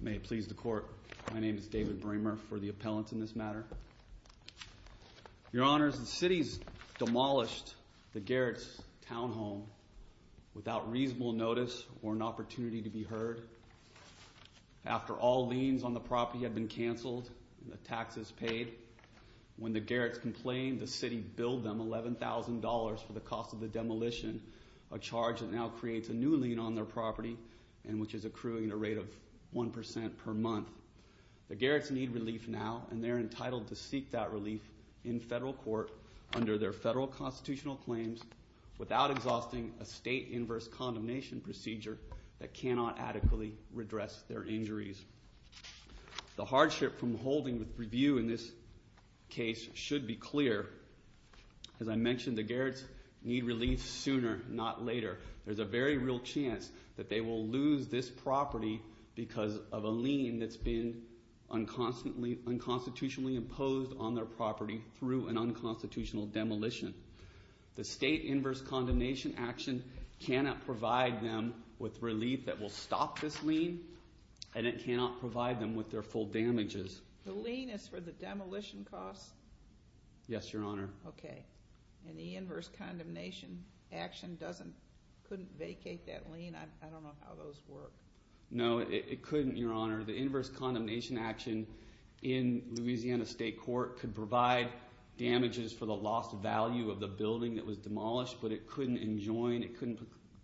May it please the court, my name is David Bramer for the appellants in this matter. Your honors, the city's demolished the Garrett's townhome without reasonable notice or an opportunity to be heard. After all liens on the property had been canceled, the taxes paid, when the Garrett's complained, the city billed them $11,000 for the cost of the demolition, a new lien on their property which is accruing a rate of 1% per month. The Garrett's need relief now and they're entitled to seek that relief in federal court under their federal constitutional claims without exhausting a state inverse condemnation procedure that cannot adequately redress their injuries. The hardship from holding the review in this case should be clear. As I mentioned, the Garrett's need relief sooner not later. There's a very real chance that they will lose this property because of a lien that's been unconstitutionally imposed on their property through an unconstitutional demolition. The state inverse condemnation action cannot provide them with relief that will stop this lien and it cannot provide them with their full damages. The lien is for the demolition costs? Yes, your honor. The inverse condemnation action couldn't vacate that lien? I don't know how those work. No, it couldn't, your honor. The inverse condemnation action in Louisiana state court could provide damages for the lost value of the building that was demolished, but it couldn't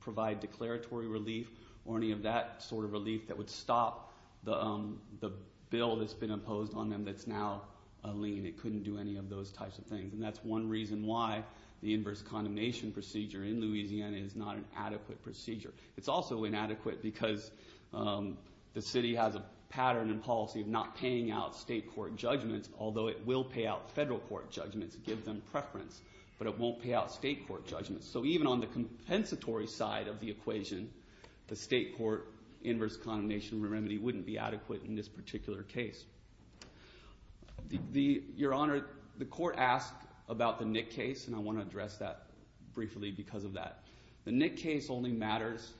provide declaratory relief or any of that sort of relief that would stop the bill that's been imposed on them that's now a lien. It couldn't do any of those types of things. That's one reason why the inverse condemnation procedure in Louisiana is not an adequate procedure. It's also inadequate because the city has a pattern and policy of not paying out state court judgments, although it will pay out federal court judgments, give them preference, but it won't pay out state court judgments. So even on the compensatory side of the equation, the state court inverse condemnation remedy wouldn't be adequate in this particular case. Your honor, the court asked about the Nick case and I want to address that briefly because of that. The Nick case only matters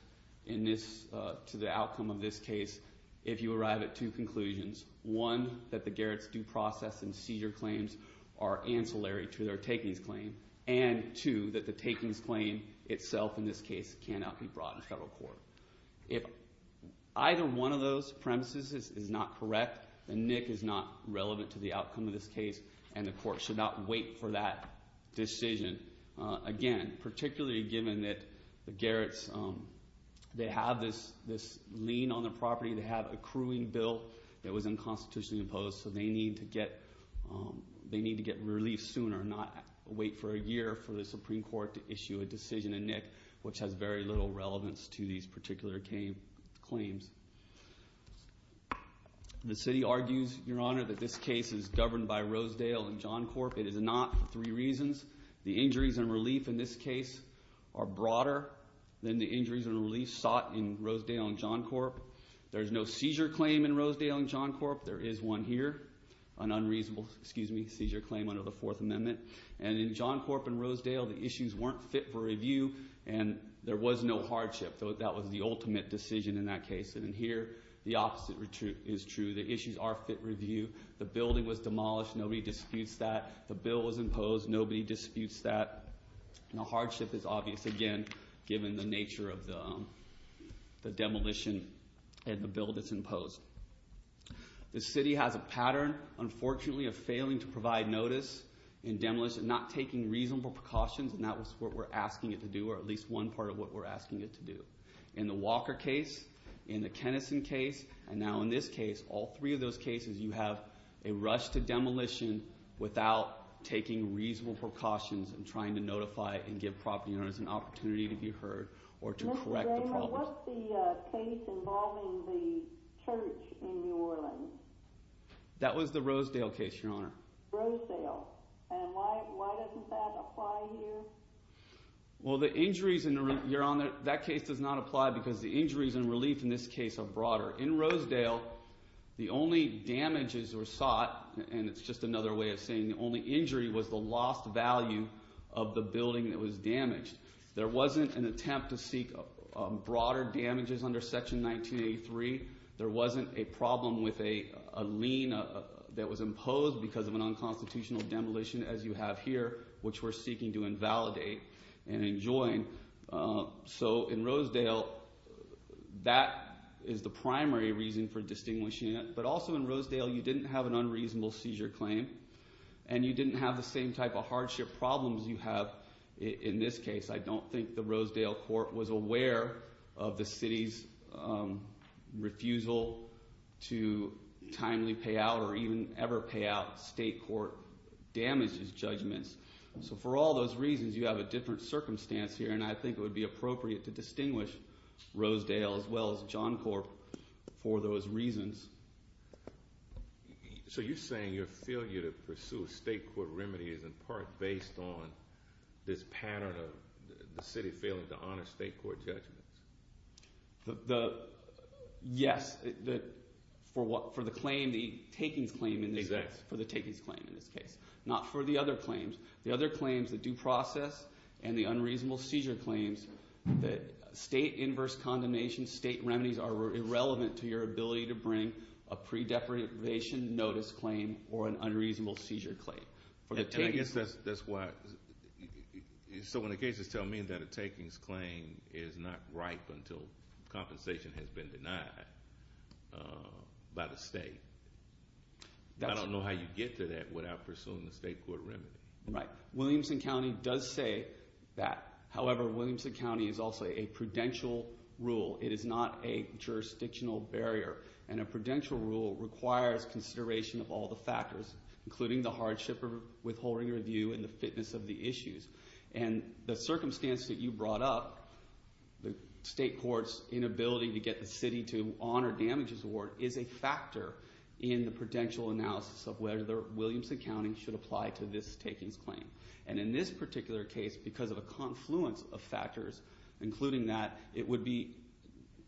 in this, to the outcome of this case, if you arrive at two conclusions. One, that the Garrett's due process and seizure claims are ancillary to their takings claim and two, that the takings claim itself in this case cannot be brought in federal court. If either one of those premises is not correct, the Nick is not relevant to the outcome of this case and the court should not wait for that decision. Again, particularly given that the Garrett's, they have this lien on the property, they have a accruing bill that was unconstitutionally imposed, so they need to get relief sooner and not wait for a year for the Supreme Court to issue a decision in Nick, which has very little relevance to these particular claims. The city argues, your honor, that this case is governed by Rosedale and John Corp. It is not for three reasons. The injuries and relief in this case are broader than the injuries and relief sought in Rosedale and John Corp. There's no seizure claim in Rosedale and John Corp. There is one here, an unreasonable seizure claim under the Fourth Amendment. In John Corp and Rosedale, the issues weren't fit for review and there was no hardship. That was the ultimate decision in that case. Here, the opposite is true. The issues are fit review. The building was demolished. Nobody disputes that. The bill was imposed. Nobody disputes that. The hardship is obvious, again, given the nature of the demolition and the bill that's imposed. The city has a pattern, unfortunately, of failing to provide notice in demolition, not taking reasonable precautions, and that's what we're asking it to do, or at least one part of what we're asking it to do. In the Walker case, in the Kennison case, and now in this case, all three of those cases, you have a rush to demolition without taking reasonable precautions and trying to notify and give property owners an opportunity to be heard or to correct the problem. What's the case involving the church in New Orleans? That was the Rosedale case, Your Honor. Rosedale. And why doesn't that apply here? Well the injuries, Your Honor, that case does not apply because the injuries and relief in this case are broader. In Rosedale, the only damages were sought, and it's just another way of saying the only injury was the lost value of the building that was damaged. There wasn't an attempt to seek broader damages under Section 1983. There wasn't a problem with a lien that was imposed because of an unconstitutional demolition, as you have here, which we're seeking to invalidate and enjoin. So in Rosedale, that is the primary reason for distinguishing it. But also in Rosedale, you didn't have an unreasonable seizure claim, and you didn't have the same type of hardship problems you have in this case. I don't think the Rosedale court was aware of the city's refusal to timely pay out or even ever pay out state court damages judgments. So for all those reasons, you have a different circumstance here, and I think it would be appropriate to distinguish Rosedale, as well as John Corp, for those reasons. So you're saying your failure to pursue state court remedies is in part based on this pattern of the city failing to honor state court judgments? Yes, for the claim, the takings claim in this case. Not for the other claims. The other claims, the due process and the unreasonable seizure claims, the state inverse condemnation state remedies are irrelevant to your ability to bring a pre-definition notice claim or an unreasonable seizure claim. And I guess that's why, so when the cases tell me that a takings claim is not ripe until compensation has been denied by the state, I don't know how you get to that without pursuing the state court remedy. Right. Williamson County does say that. However, Williamson County is also a prudential rule. It is not a jurisdictional barrier, and a prudential rule requires consideration of all the factors, including the hardship of withholding review and the fitness of the issues. And the circumstance that you brought up, the state court's inability to get the city to honor damages award, is a factor in the prudential analysis of whether Williamson County should apply to this takings claim. And in this particular case, because of a confluence of factors, including that, it would be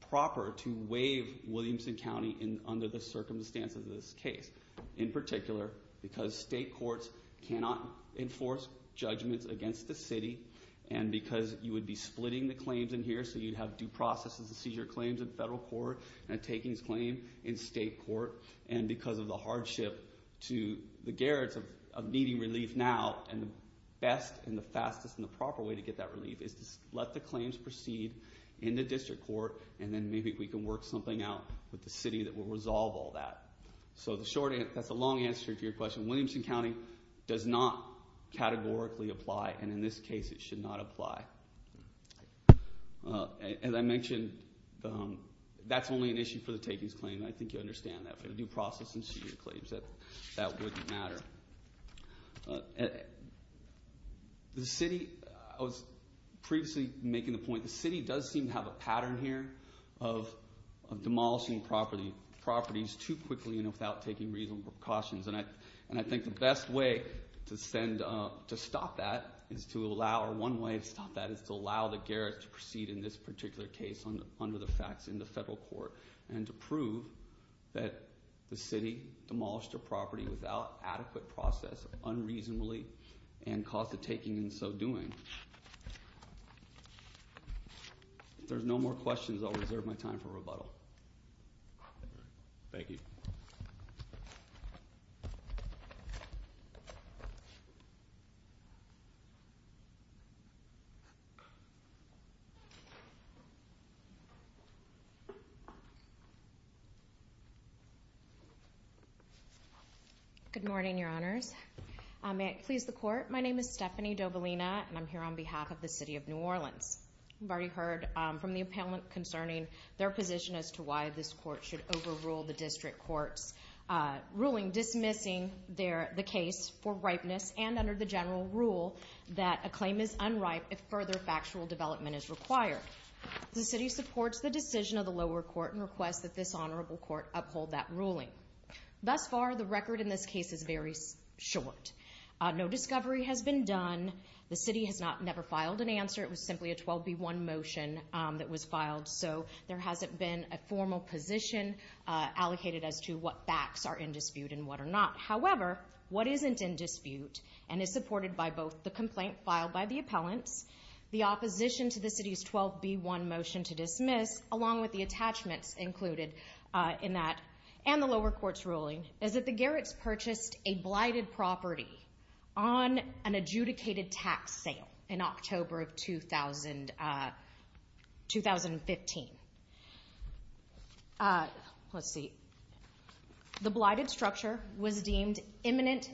proper to waive Williamson County under the circumstances of this case. In particular, because state courts cannot enforce judgments against the city, and because you would be splitting the claims in here, so you'd have due processes and seizure claims in federal court, and a takings claim in state court, and because of the hardship to the Garrets of needing relief now, and the best and the fastest and the proper way to get that relief is to let the claims proceed in the district court, and then maybe we can work something out with the city that will resolve all that. So that's a long answer to your question. Williamson County does not categorically apply, and in this case it should not apply. As I mentioned, that's only an issue for the takings claim. I think you understand that. But due process and seizure claims, that wouldn't matter. The city, I was previously making the point, the city does seem to have a pattern here of demolishing properties too quickly and without taking reasonable precautions, and I think the best way to stop that is to allow, or one way to stop that is to allow the Garrets to proceed in this particular case under the facts in the federal court, and to prove that the city demolished a property without adequate process, unreasonably, and caused the taking and so doing. If there's no more questions, I'll reserve my time for rebuttal. Thank you. Good morning, Your Honors. May it please the Court, my name is Stephanie Dobalina, and I'm here on behalf of the City of New Orleans. You've already heard from the appellant concerning their position as to why this court should overrule the district court's ruling dismissing the case for ripeness and under the general rule that a claim is unripe if further factual development is required. The city supports the decision of the lower court and requests that this honorable court uphold that ruling. Thus far, the record in this case is very short. No discovery has been done, the city has never filed an answer, it was simply a 12B1 motion that was filed, so there hasn't been a formal position allocated as to what facts are in dispute and what are not. However, what isn't in dispute and is supported by both the complaint filed by the appellants, the opposition to the city's 12B1 motion to dismiss, along with the attachments included in that, and the lower court's ruling, is that the Garretts purchased a blighted property on an adjudicated tax sale in October of 2015. Let's see. The blighted structure was deemed imminent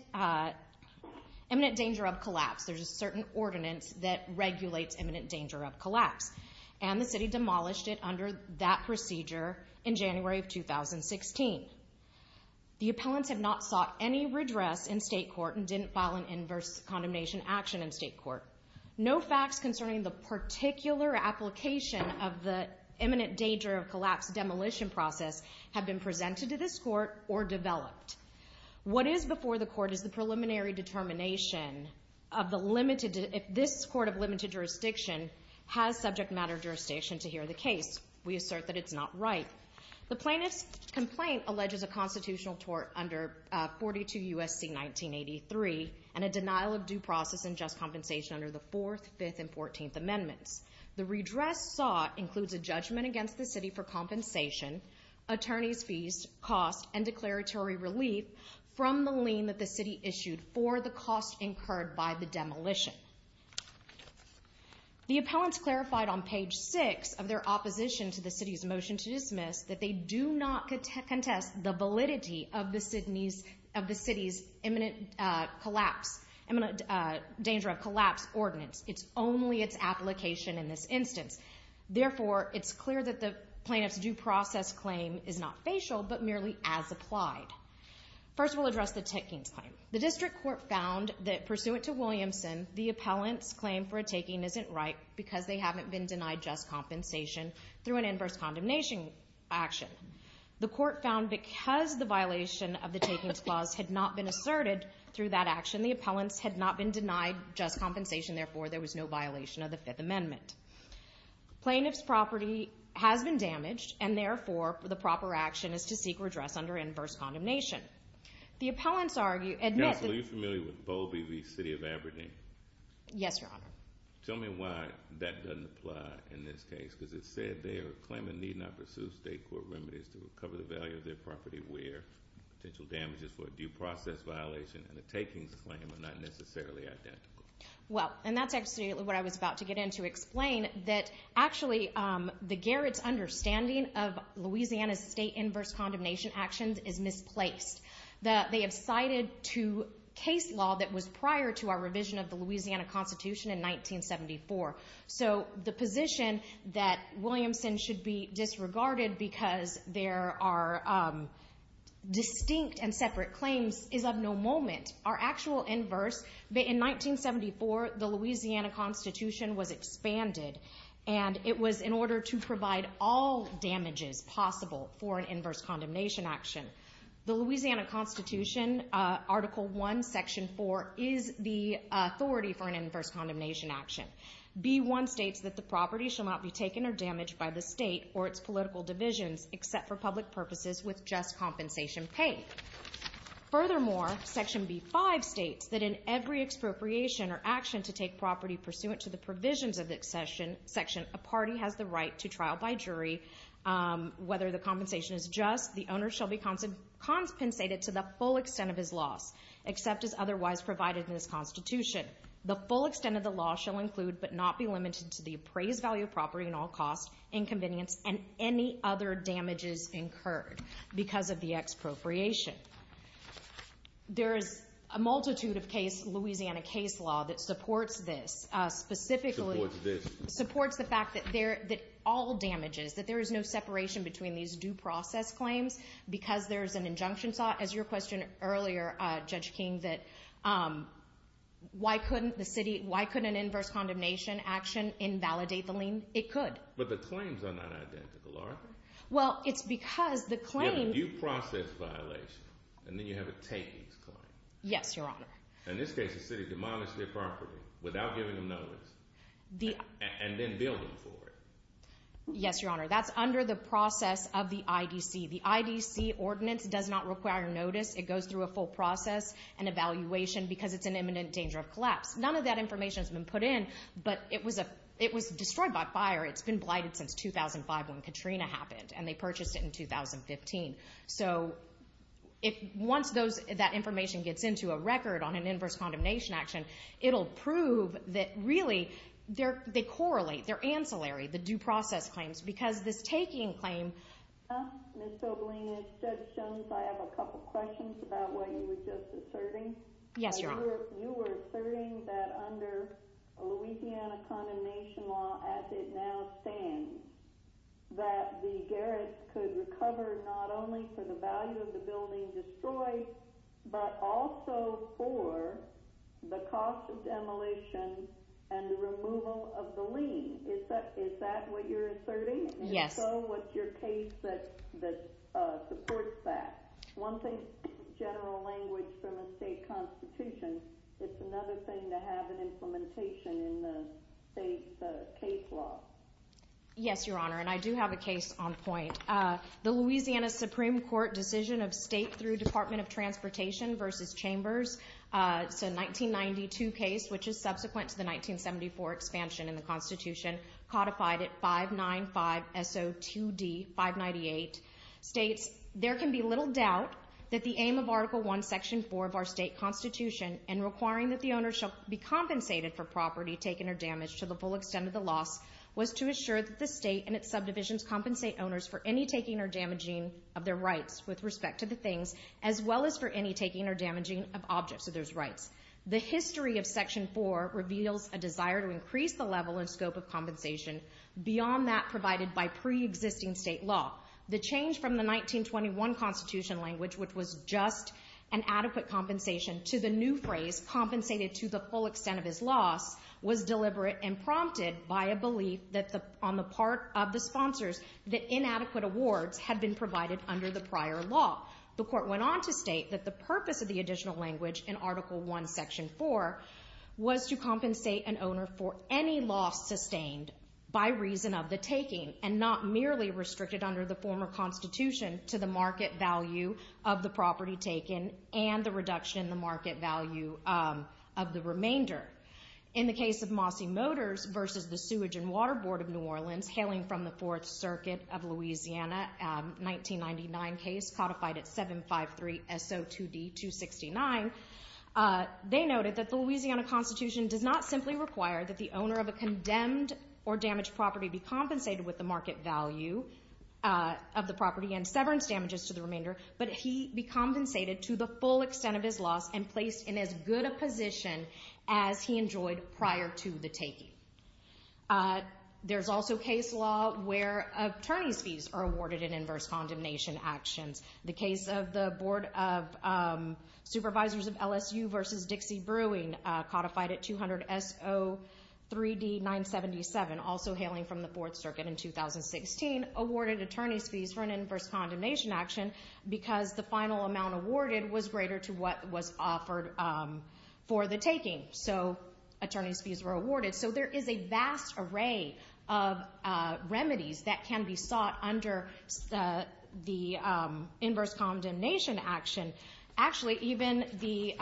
danger of collapse, there's a certain ordinance that regulates imminent danger of collapse, and the city demolished it under that procedure in January of 2016. The appellants have not sought any redress in state court and didn't file an inverse condemnation action in state court. No facts concerning the imminent danger of collapse demolition process have been presented to this court or developed. What is before the court is the preliminary determination of the limited, if this court of limited jurisdiction has subject matter jurisdiction to hear the case. We assert that it's not right. The plaintiff's complaint alleges a constitutional tort under 42 U.S.C. 1983 and a denial of due process and just compensation under the 4th, 5th, and 14th Judgment against the city for compensation, attorney's fees, cost, and declaratory relief from the lien that the city issued for the cost incurred by the demolition. The appellants clarified on page 6 of their opposition to the city's motion to dismiss that they do not contest the validity of the city's imminent collapse, imminent danger of collapse ordinance. It's only its application in this instance. Therefore, it's clear that the plaintiff's due process claim is not facial but merely as applied. First, we'll address the takings claim. The district court found that pursuant to Williamson, the appellant's claim for a taking isn't right because they haven't been denied just compensation through an inverse condemnation action. The court found because the violation of the takings clause had not been asserted through that action, the appellants had not been denied just compensation, therefore there was no violation of the 5th Amendment. Plaintiff's property has been damaged and therefore the proper action is to seek redress under inverse condemnation. The appellants argue, admit- Counsel, are you familiar with Bowlby v. City of Aberdeen? Yes, Your Honor. Tell me why that doesn't apply in this case because it said there, a claimant need not pursue state court remedies to recover the value of their property where potential damages for a due process violation and a takings claim are not necessarily identical. Well, and that's actually what I was about to get into, explain that actually the Garrets' understanding of Louisiana's state inverse condemnation actions is misplaced. They have cited two case law that was prior to our revision of the Louisiana Constitution in 1974. So the position that Williamson should be disregarded because there are distinct and separate claims is of no moment. Our actual inverse, in 1974, the Louisiana Constitution was expanded and it was in order to provide all damages possible for an inverse condemnation action. The Louisiana Constitution, Article 1, Section 4 is the authority for an inverse condemnation action. B1 states that the property shall not be taken or damaged by the state or its political divisions except for public purposes with just compensation paid. Furthermore, Section B5 states that in every expropriation or action to take property pursuant to the provisions of the section, a party has the right to trial by jury. Whether the compensation is just, the owner shall be compensated to the full extent of his loss except as otherwise provided in this Constitution. The full extent of the law shall include but not be limited to the appraised value of property in all costs, inconvenience, and any other damages incurred because of the expropriation. There's a multitude of case, Louisiana case law that supports this. Specifically, supports the fact that all damages, that there is no separation between these due process claims because there's an injunction sought. As your question earlier, Judge King, that why couldn't an inverse condemnation action invalidate the lien? It could. But the claims are not identical, are they? Well, it's because the claim... You have a due process violation and then you have a takings claim. Yes, your honor. In this case, the city demonized their property without giving them notice and then billed them for it. Yes, your honor. That's under the process of the IDC. The IDC ordinance does not require notice. It goes through a process. None of that information has been put in, but it was destroyed by fire. It's been blighted since 2005 when Katrina happened, and they purchased it in 2015. Once that information gets into a record on an inverse condemnation action, it'll prove that really they correlate, they're ancillary, the due process claims, because this taking claim... Ms. Tobolino, Judge Jones, I have a couple questions about what you were just asserting. Yes, your honor. You were asserting that under Louisiana Condemnation Law, as it now stands, that the garret could recover not only for the value of the building destroyed, but also for the cost of demolition and the removal of the lien. Is that what you're asserting? Yes. And if so, what's your asserting? If it's not in the language from a state constitution, it's another thing to have an implementation in the state's case law. Yes, your honor, and I do have a case on point. The Louisiana Supreme Court decision of state through Department of Transportation versus Chambers, it's a 1992 case, which is subsequent to the 1974 expansion in the constitution codified at 595SO2D598, states, there can be little doubt that the aim of Article 1.2 and Section 4 of our state constitution, and requiring that the owner shall be compensated for property taken or damaged to the full extent of the loss, was to assure that the state and its subdivisions compensate owners for any taking or damaging of their rights with respect to the things, as well as for any taking or damaging of objects of those rights. The history of Section 4 reveals a desire to increase the level and scope of compensation beyond that provided by pre-existing state law. The change from the 1921 constitution language, which was just an adequate compensation, to the new phrase, compensated to the full extent of his loss, was deliberate and prompted by a belief on the part of the sponsors that inadequate awards had been provided under the prior law. The court went on to state that the purpose of the additional language in Article 1, Section 4, was to compensate an owner for any loss sustained by reason of the taking, and not merely restricted under the former constitution, to the market value of the property taken, and the reduction in the market value of the remainder. In the case of Mosse Motors versus the Sewage and Water Board of New Orleans, hailing from the Fourth Circuit of Louisiana, 1999 case, codified at 753-SO2D-269, they noted that the Louisiana constitution does not simply require that the owner of a condemned or damaged property be compensated with the market value of the property and severance damages to the remainder, but he be compensated to the full extent of his loss and placed in as good a position as he enjoyed prior to the taking. There's also case law where attorney's fees are awarded in inverse condemnation actions. The case of the Board of Supervisors of LSU versus Dixie Brewing, codified at 200-SO3D-977, also hailing from the Fourth Circuit in 2016, awarded attorney's fees for an inverse condemnation action, because the final amount awarded was greater to what was offered for the taking. So, attorney's fees were awarded. So there is a vast array of remedies that can be sought under the inverse condemnation action. Actually, even the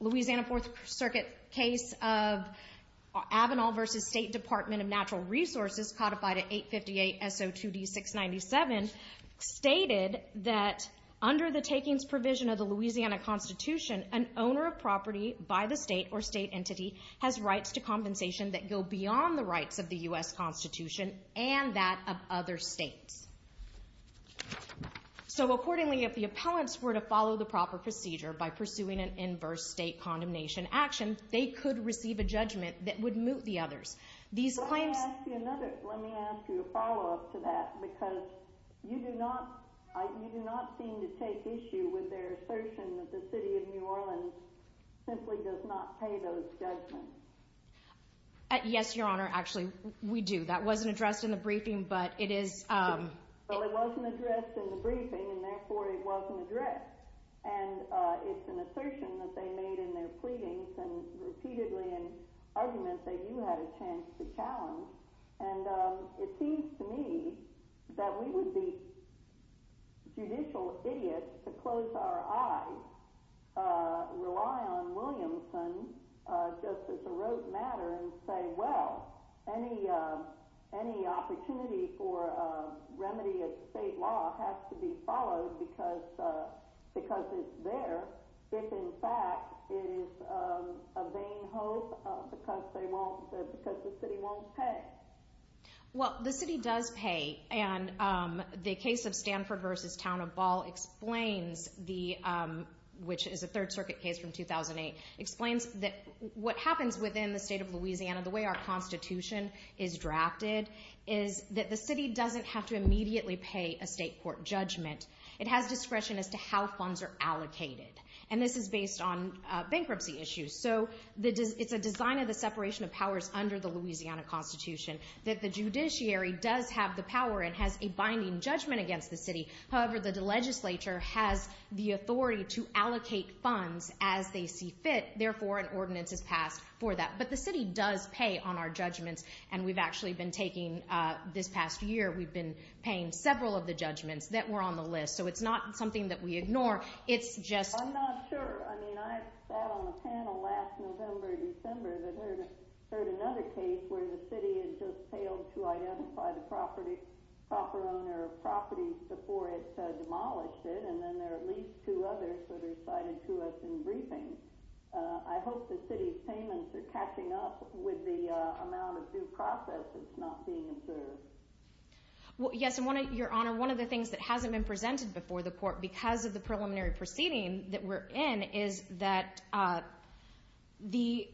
Louisiana Fourth Circuit case of Avenal versus State Department of Natural Resources, codified at 858-SO2D-697, stated that under the takings provision of the Louisiana constitution, an owner of property by the state or state entity has rights to compensation that go beyond the rights of the U.S. constitution and that of other states. So accordingly, if the appellants were to follow the proper procedure by pursuing an inverse state condemnation action, they could receive a judgment that would moot the others. These claims... Let me ask you a follow-up to that, because you do not seem to take issue with their assertion that the city of New Orleans simply does not pay those judgments. Yes, Your Honor. Actually, we do. That wasn't addressed in the briefing, but it is... Well, it wasn't addressed in the briefing, and therefore it wasn't addressed. And it's an assertion that they made in their pleadings and repeatedly in arguments that you had a chance to challenge. And it seems to me that we would be judicial idiots to close our eyes, rely on Williamson just as a rote matter and say, well, any opportunity for a remedy of state law has to be followed because it's there, if in fact it is a vain hope because the city won't pay. Well, the city does pay, and the case of Stanford v. Town of Ball, which is a Third Circuit case from 2008, explains that what happens within the state of Louisiana, the way our Constitution is drafted, is that the city doesn't have to immediately pay a state court judgment. It has discretion as to how funds are allocated. And this is based on bankruptcy issues. So it's a design of the separation of powers under the Louisiana Constitution that the judiciary does have the power and has a binding judgment against the city. However, the legislature has the authority to allocate funds as they see fit. Therefore, an ordinance is passed for that. But the city does pay on our judgments, and we've actually been taking, this past year, we've been paying several of the judgments that were on the list. So it's not something that we ignore. It's just... We had a panel last November, December, that heard another case where the city had just failed to identify the proper owner of properties before it demolished it, and then there are at least two others that are cited to us in briefings. I hope the city's payments are catching up with the amount of due process that's not being observed. Well, yes, and Your Honor, one of the things that hasn't been presented before the court because of the preliminary proceeding that we're in is that the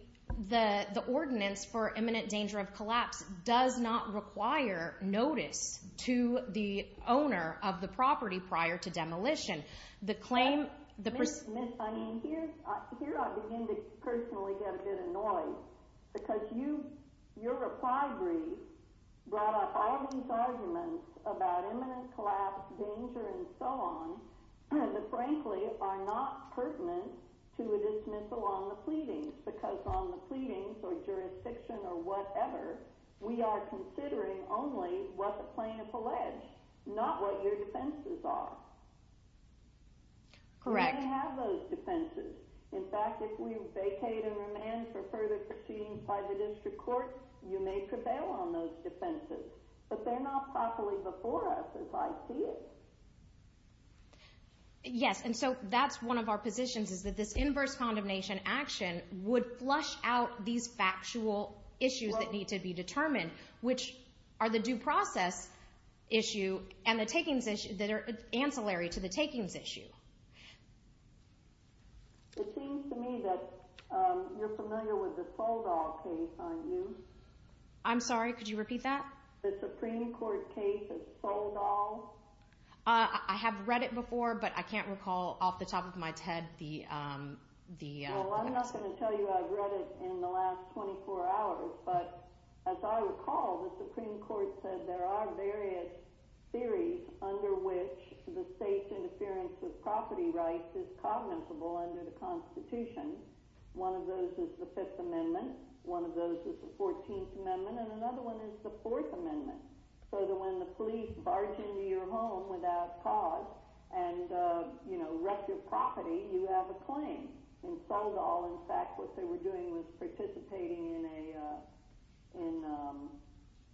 ordinance for imminent danger of collapse does not require notice to the owner of the property prior to demolition. The claim... Miss, I mean, here I begin to personally get a bit annoyed because you, your reply brief brought up all these arguments about imminent collapse, danger, and so on, that frankly are not pertinent to a dismissal on the pleadings, because on the pleadings or jurisdiction or whatever, we are considering only what the plaintiff alleged, not what your defenses are. Correct. You may have those defenses. In fact, if we vacate and remand for further proceedings by the district court, you may prevail on those defenses, but they're not properly before us as I see it. Yes, and so that's one of our positions is that this inverse condemnation action would flush out these factual issues that need to be determined, which are the due process issue and the takings issue that are ancillary to the takings issue. It seems to me that you're familiar with the Soldall case, aren't you? I'm sorry, could you repeat that? The Supreme Court case of Soldall? I have read it before, but I can't recall off the top of my head the... Well, I'm not going to tell you I've read it in the last 24 hours, but as I recall, the Supreme Court's claim that property rights is cognizable under the Constitution, one of those is the Fifth Amendment, one of those is the Fourteenth Amendment, and another one is the Fourth Amendment, so that when the police barge into your home without cause and wreck your property, you have a claim. In Soldall, in fact, what they were doing was participating in a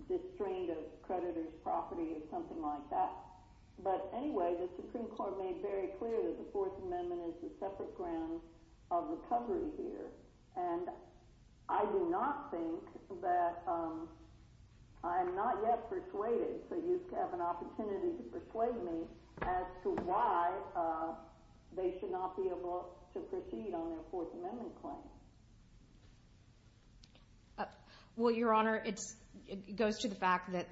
disdain of creditors' property or something like that. But anyway, the Supreme Court made very clear that the Fourth Amendment is the separate ground of recovery here, and I do not think that I'm not yet persuaded, so you have an opportunity to persuade me as to why they should not be able to proceed on their Fourth Amendment claim. Well, Your Honor, it goes to the fact that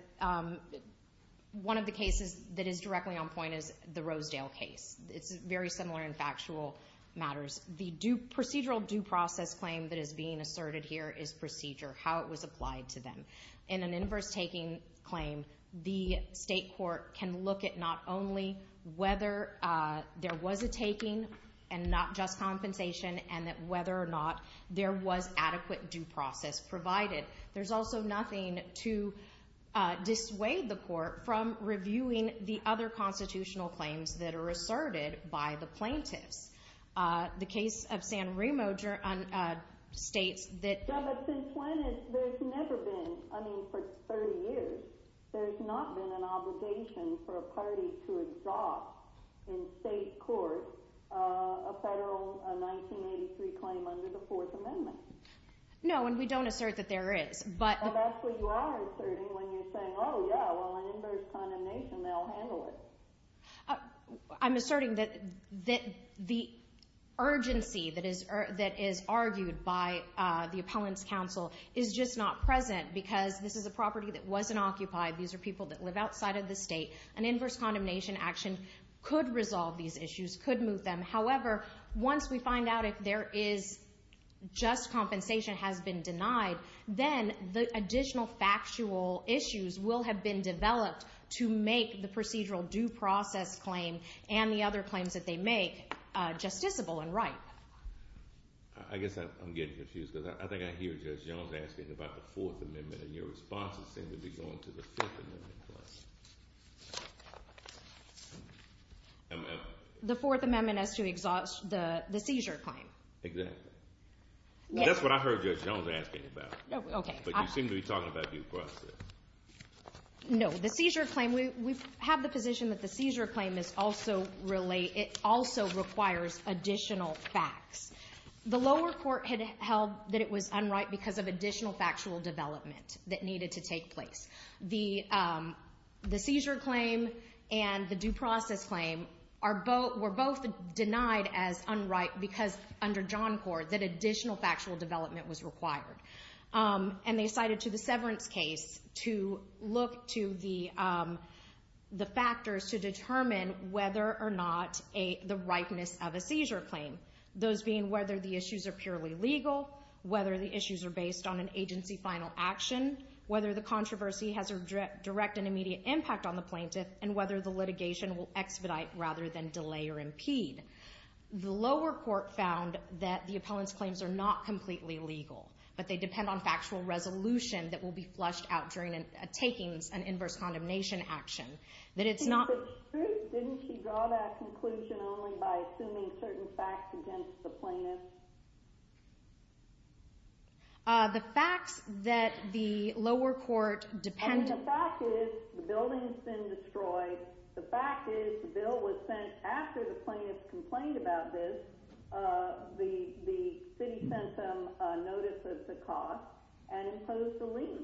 one of the cases that is directly on point is the Rosedale case. It's very similar in factual matters. The procedural due process claim that is being asserted here is procedure, how it was applied to them. In an inverse taking claim, the state court can look at not only whether there was a taking and not just compensation, and that whether or not there was adequate due process provided. There's also nothing to dissuade the court from reviewing the other constitutional claims that are asserted by the plaintiffs. The case of San Remo states that... Yeah, but since when? There's never been, I mean, for 30 years, there's not been an Rosedale 1983 claim under the Fourth Amendment. No, and we don't assert that there is, but... Well, that's what you are asserting when you're saying, oh yeah, well, an inverse condemnation, they'll handle it. I'm asserting that the urgency that is argued by the Appellants' Counsel is just not present because this is a property that wasn't occupied. These are people that live outside of the state. An inverse condemnation action could resolve these issues, could move them. However, once we find out if there is just compensation has been denied, then the additional factual issues will have been developed to make the procedural due process claim and the other claims that they make justiciable and right. I guess I'm getting confused because I think I hear Judge Jones asking about the Fourth Amendment. The Fourth Amendment as to exhaust the seizure claim. Exactly. That's what I heard Judge Jones asking about, but you seem to be talking about due process. No, the seizure claim, we have the position that the seizure claim also requires additional facts. The lower court had held that it was unright because of additional factual development that needed to take place. The seizure claim and the due process claim were both denied as unright because under John Court that additional factual development was required. They cited to the severance case to look to the factors to determine whether or not the rightness of a seizure claim, those being whether the issues are purely legal, whether the issues are based on an agency final action, whether the controversy has a direct and immediate impact on the plaintiff, and whether the litigation will expedite rather than delay or impede. The lower court found that the appellant's claims are not completely legal, but they depend on factual resolution that will be flushed out during a takings and inverse condemnation action. Isn't it true? Didn't she draw that conclusion only by assuming certain facts against the plaintiff? The facts that the lower court depended on. I mean, the fact is the building has been destroyed. The fact is the bill was sent after the plaintiff complained about this. The city sent them a notice of the cost and imposed a lien.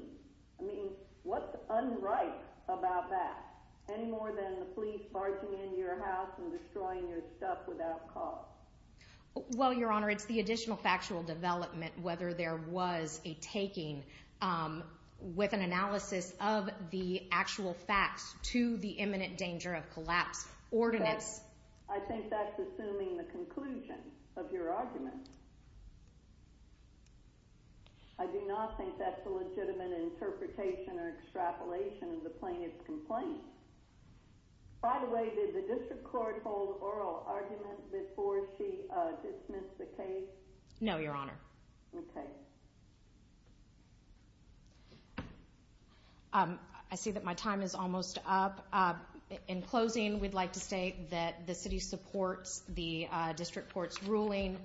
I mean, what's unright about that? Any more than the police barging into your house and destroying your stuff without cause. Well, Your Honor, it's the additional factual development, whether there was a taking with an analysis of the actual facts to the imminent danger of collapse. I think that's assuming the conclusion of your argument. I do not think that's a legitimate interpretation or extrapolation of the plaintiff's complaint. By the way, did the district court hold oral arguments before she dismissed the case? No, Your Honor. Okay. I see that my time is almost up. In closing, we'd like to state that the city supports the district court's ruling.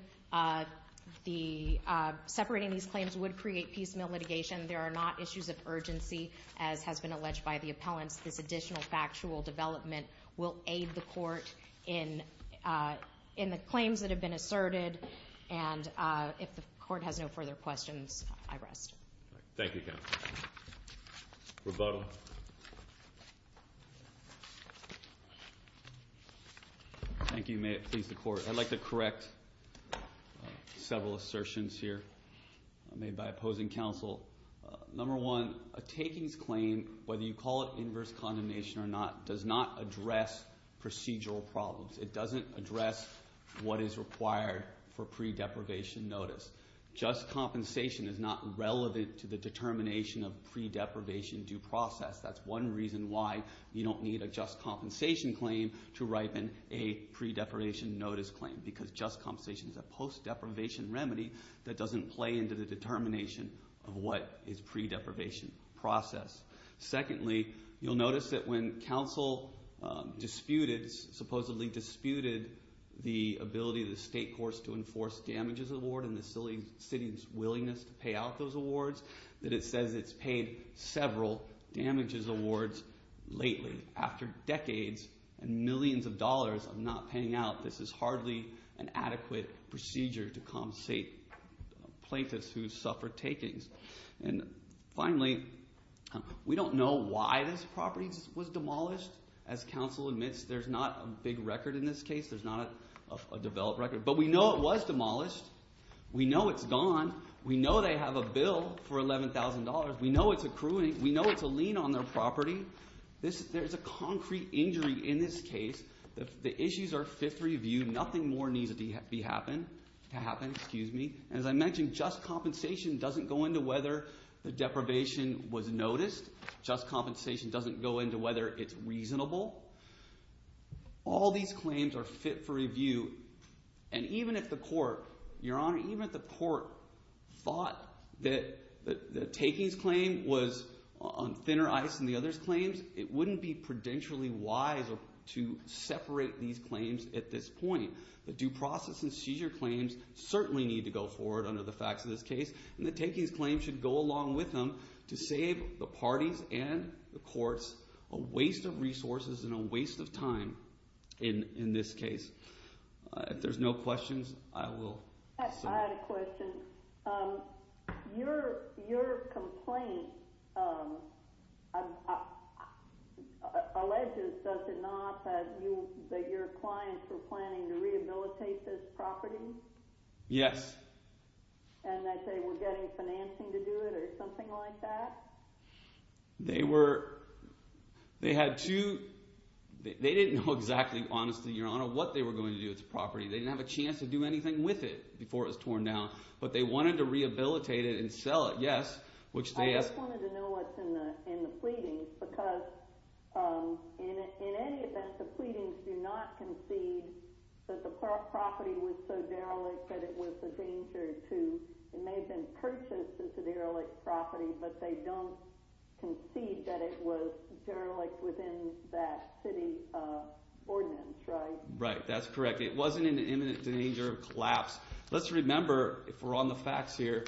Separating these claims would create piecemeal litigation. There are not issues of urgency, as has been alleged by the appellants. This additional factual development will aid the court in the claims that have been asserted. And if the court has no further questions, I rest. Thank you, counsel. Rebuttal. Thank you. May it please the court. I'd like to correct several assertions here made by opposing counsel. Number one, a takings claim, whether you call it inverse condemnation or not, does not address procedural problems. It doesn't address what is required for pre-deprivation notice. Just compensation is not relevant to the determination of pre-deprivation due process. That's one reason why you don't need a just compensation claim to ripen a pre-deprivation notice claim, because just compensation is a post-deprivation remedy that doesn't play into the determination of what is pre-deprivation process. Secondly, you'll notice that when counsel disputed, supposedly disputed, the ability of the state courts to enforce damages award and the city's willingness to pay out those awards, that it says it's paid several damages awards lately. After decades and millions of dollars of not paying out, this is hardly an adequate procedure to compensate plaintiffs who suffer takings. And finally, we don't know why this property was demolished. As counsel admits, there's not a big record in this case. There's not a developed record. But we know it was demolished. We know it's gone. We know they have a bill for $11,000. We know it's accruing. We know it's a lien on their property. There's a concrete injury in this case. The issues are fit for review. Nothing more needs to happen. As I mentioned, just compensation doesn't go into whether the deprivation was noticed. Just compensation doesn't go into whether it's reasonable. All these claims are fit for review. And even if the court, Your Honor, even if the court thought that the takings claim was on thinner ice than the others' claims, it wouldn't be prudentially wise to separate these claims at this point. The due process and seizure claims certainly need to go forward under the facts of this case. And the takings claim should go along with them to save the parties and the courts a waste of resources and a waste of time in this case. If there's no questions, I will... I had a question. Your complaint alleges, does it not, that your clients were planning to rehabilitate this property? Yes. And that they were getting financing to do it or something like that? They were... They had two... They didn't know exactly, honestly, Your Honor, what they were going to do with the property. They didn't have a chance to do anything with it before it was torn down. But they wanted to rehabilitate it and sell it, yes. I just wanted to know what's in the pleadings because in any event, the pleadings do not concede that the property was so derelict that it was a danger to... It may have been so derelict that it was derelict within that city ordinance, right? Right. That's correct. It wasn't in imminent danger of collapse. Let's remember, if we're on the facts here,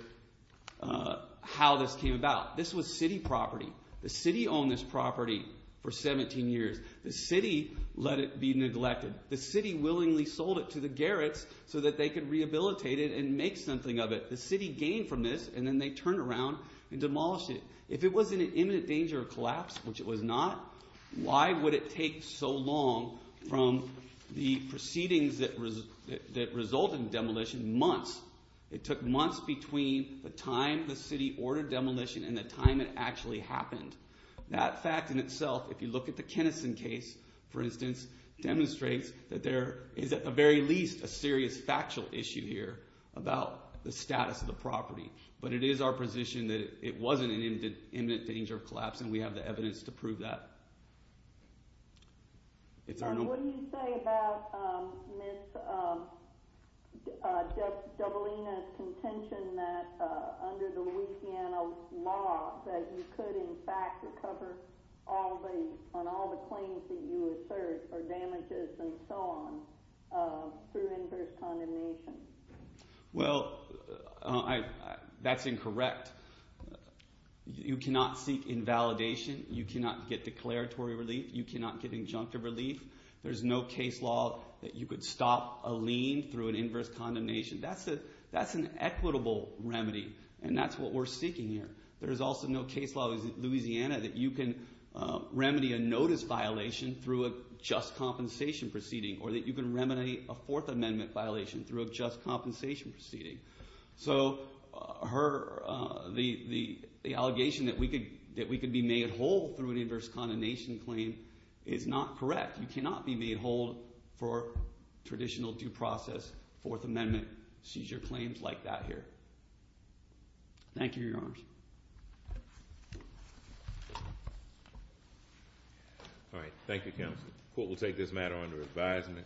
how this came about. This was city property. The city owned this property for 17 years. The city let it be neglected. The city willingly sold it to the Garretts so that they could rehabilitate it and make something of it. The city gained from this and then they turned around and demolished it. If it was in an imminent danger of collapse, which it was not, why would it take so long from the proceedings that resulted in demolition months? It took months between the time the city ordered demolition and the time it actually happened. That fact in itself, if you look at the Kenniston case, for instance, demonstrates that there is at the very least a serious factual issue here about the status of the property. It is our position that it wasn't in imminent danger of collapse and we have the evidence to prove that. What do you say about Ms. Dabolina's contention that under the Louisiana law, that you could in fact recover on all the claims that you assert or damages and so on through inverse condemnation? That's incorrect. You cannot seek invalidation. You cannot get declaratory relief. You cannot get injunctive relief. There's no case law that you could stop a lien through an inverse condemnation. That's an equitable remedy and that's what we're seeking here. There's also no case law in Louisiana that you can remedy a notice violation through a just compensation proceeding or that you can remedy a Fourth Amendment violation through a just compensation proceeding. So the allegation that we could be made whole through an inverse condemnation claim is not correct. You cannot be made whole for traditional due process Fourth Amendment seizure claims like that here. Thank you, Your Honor.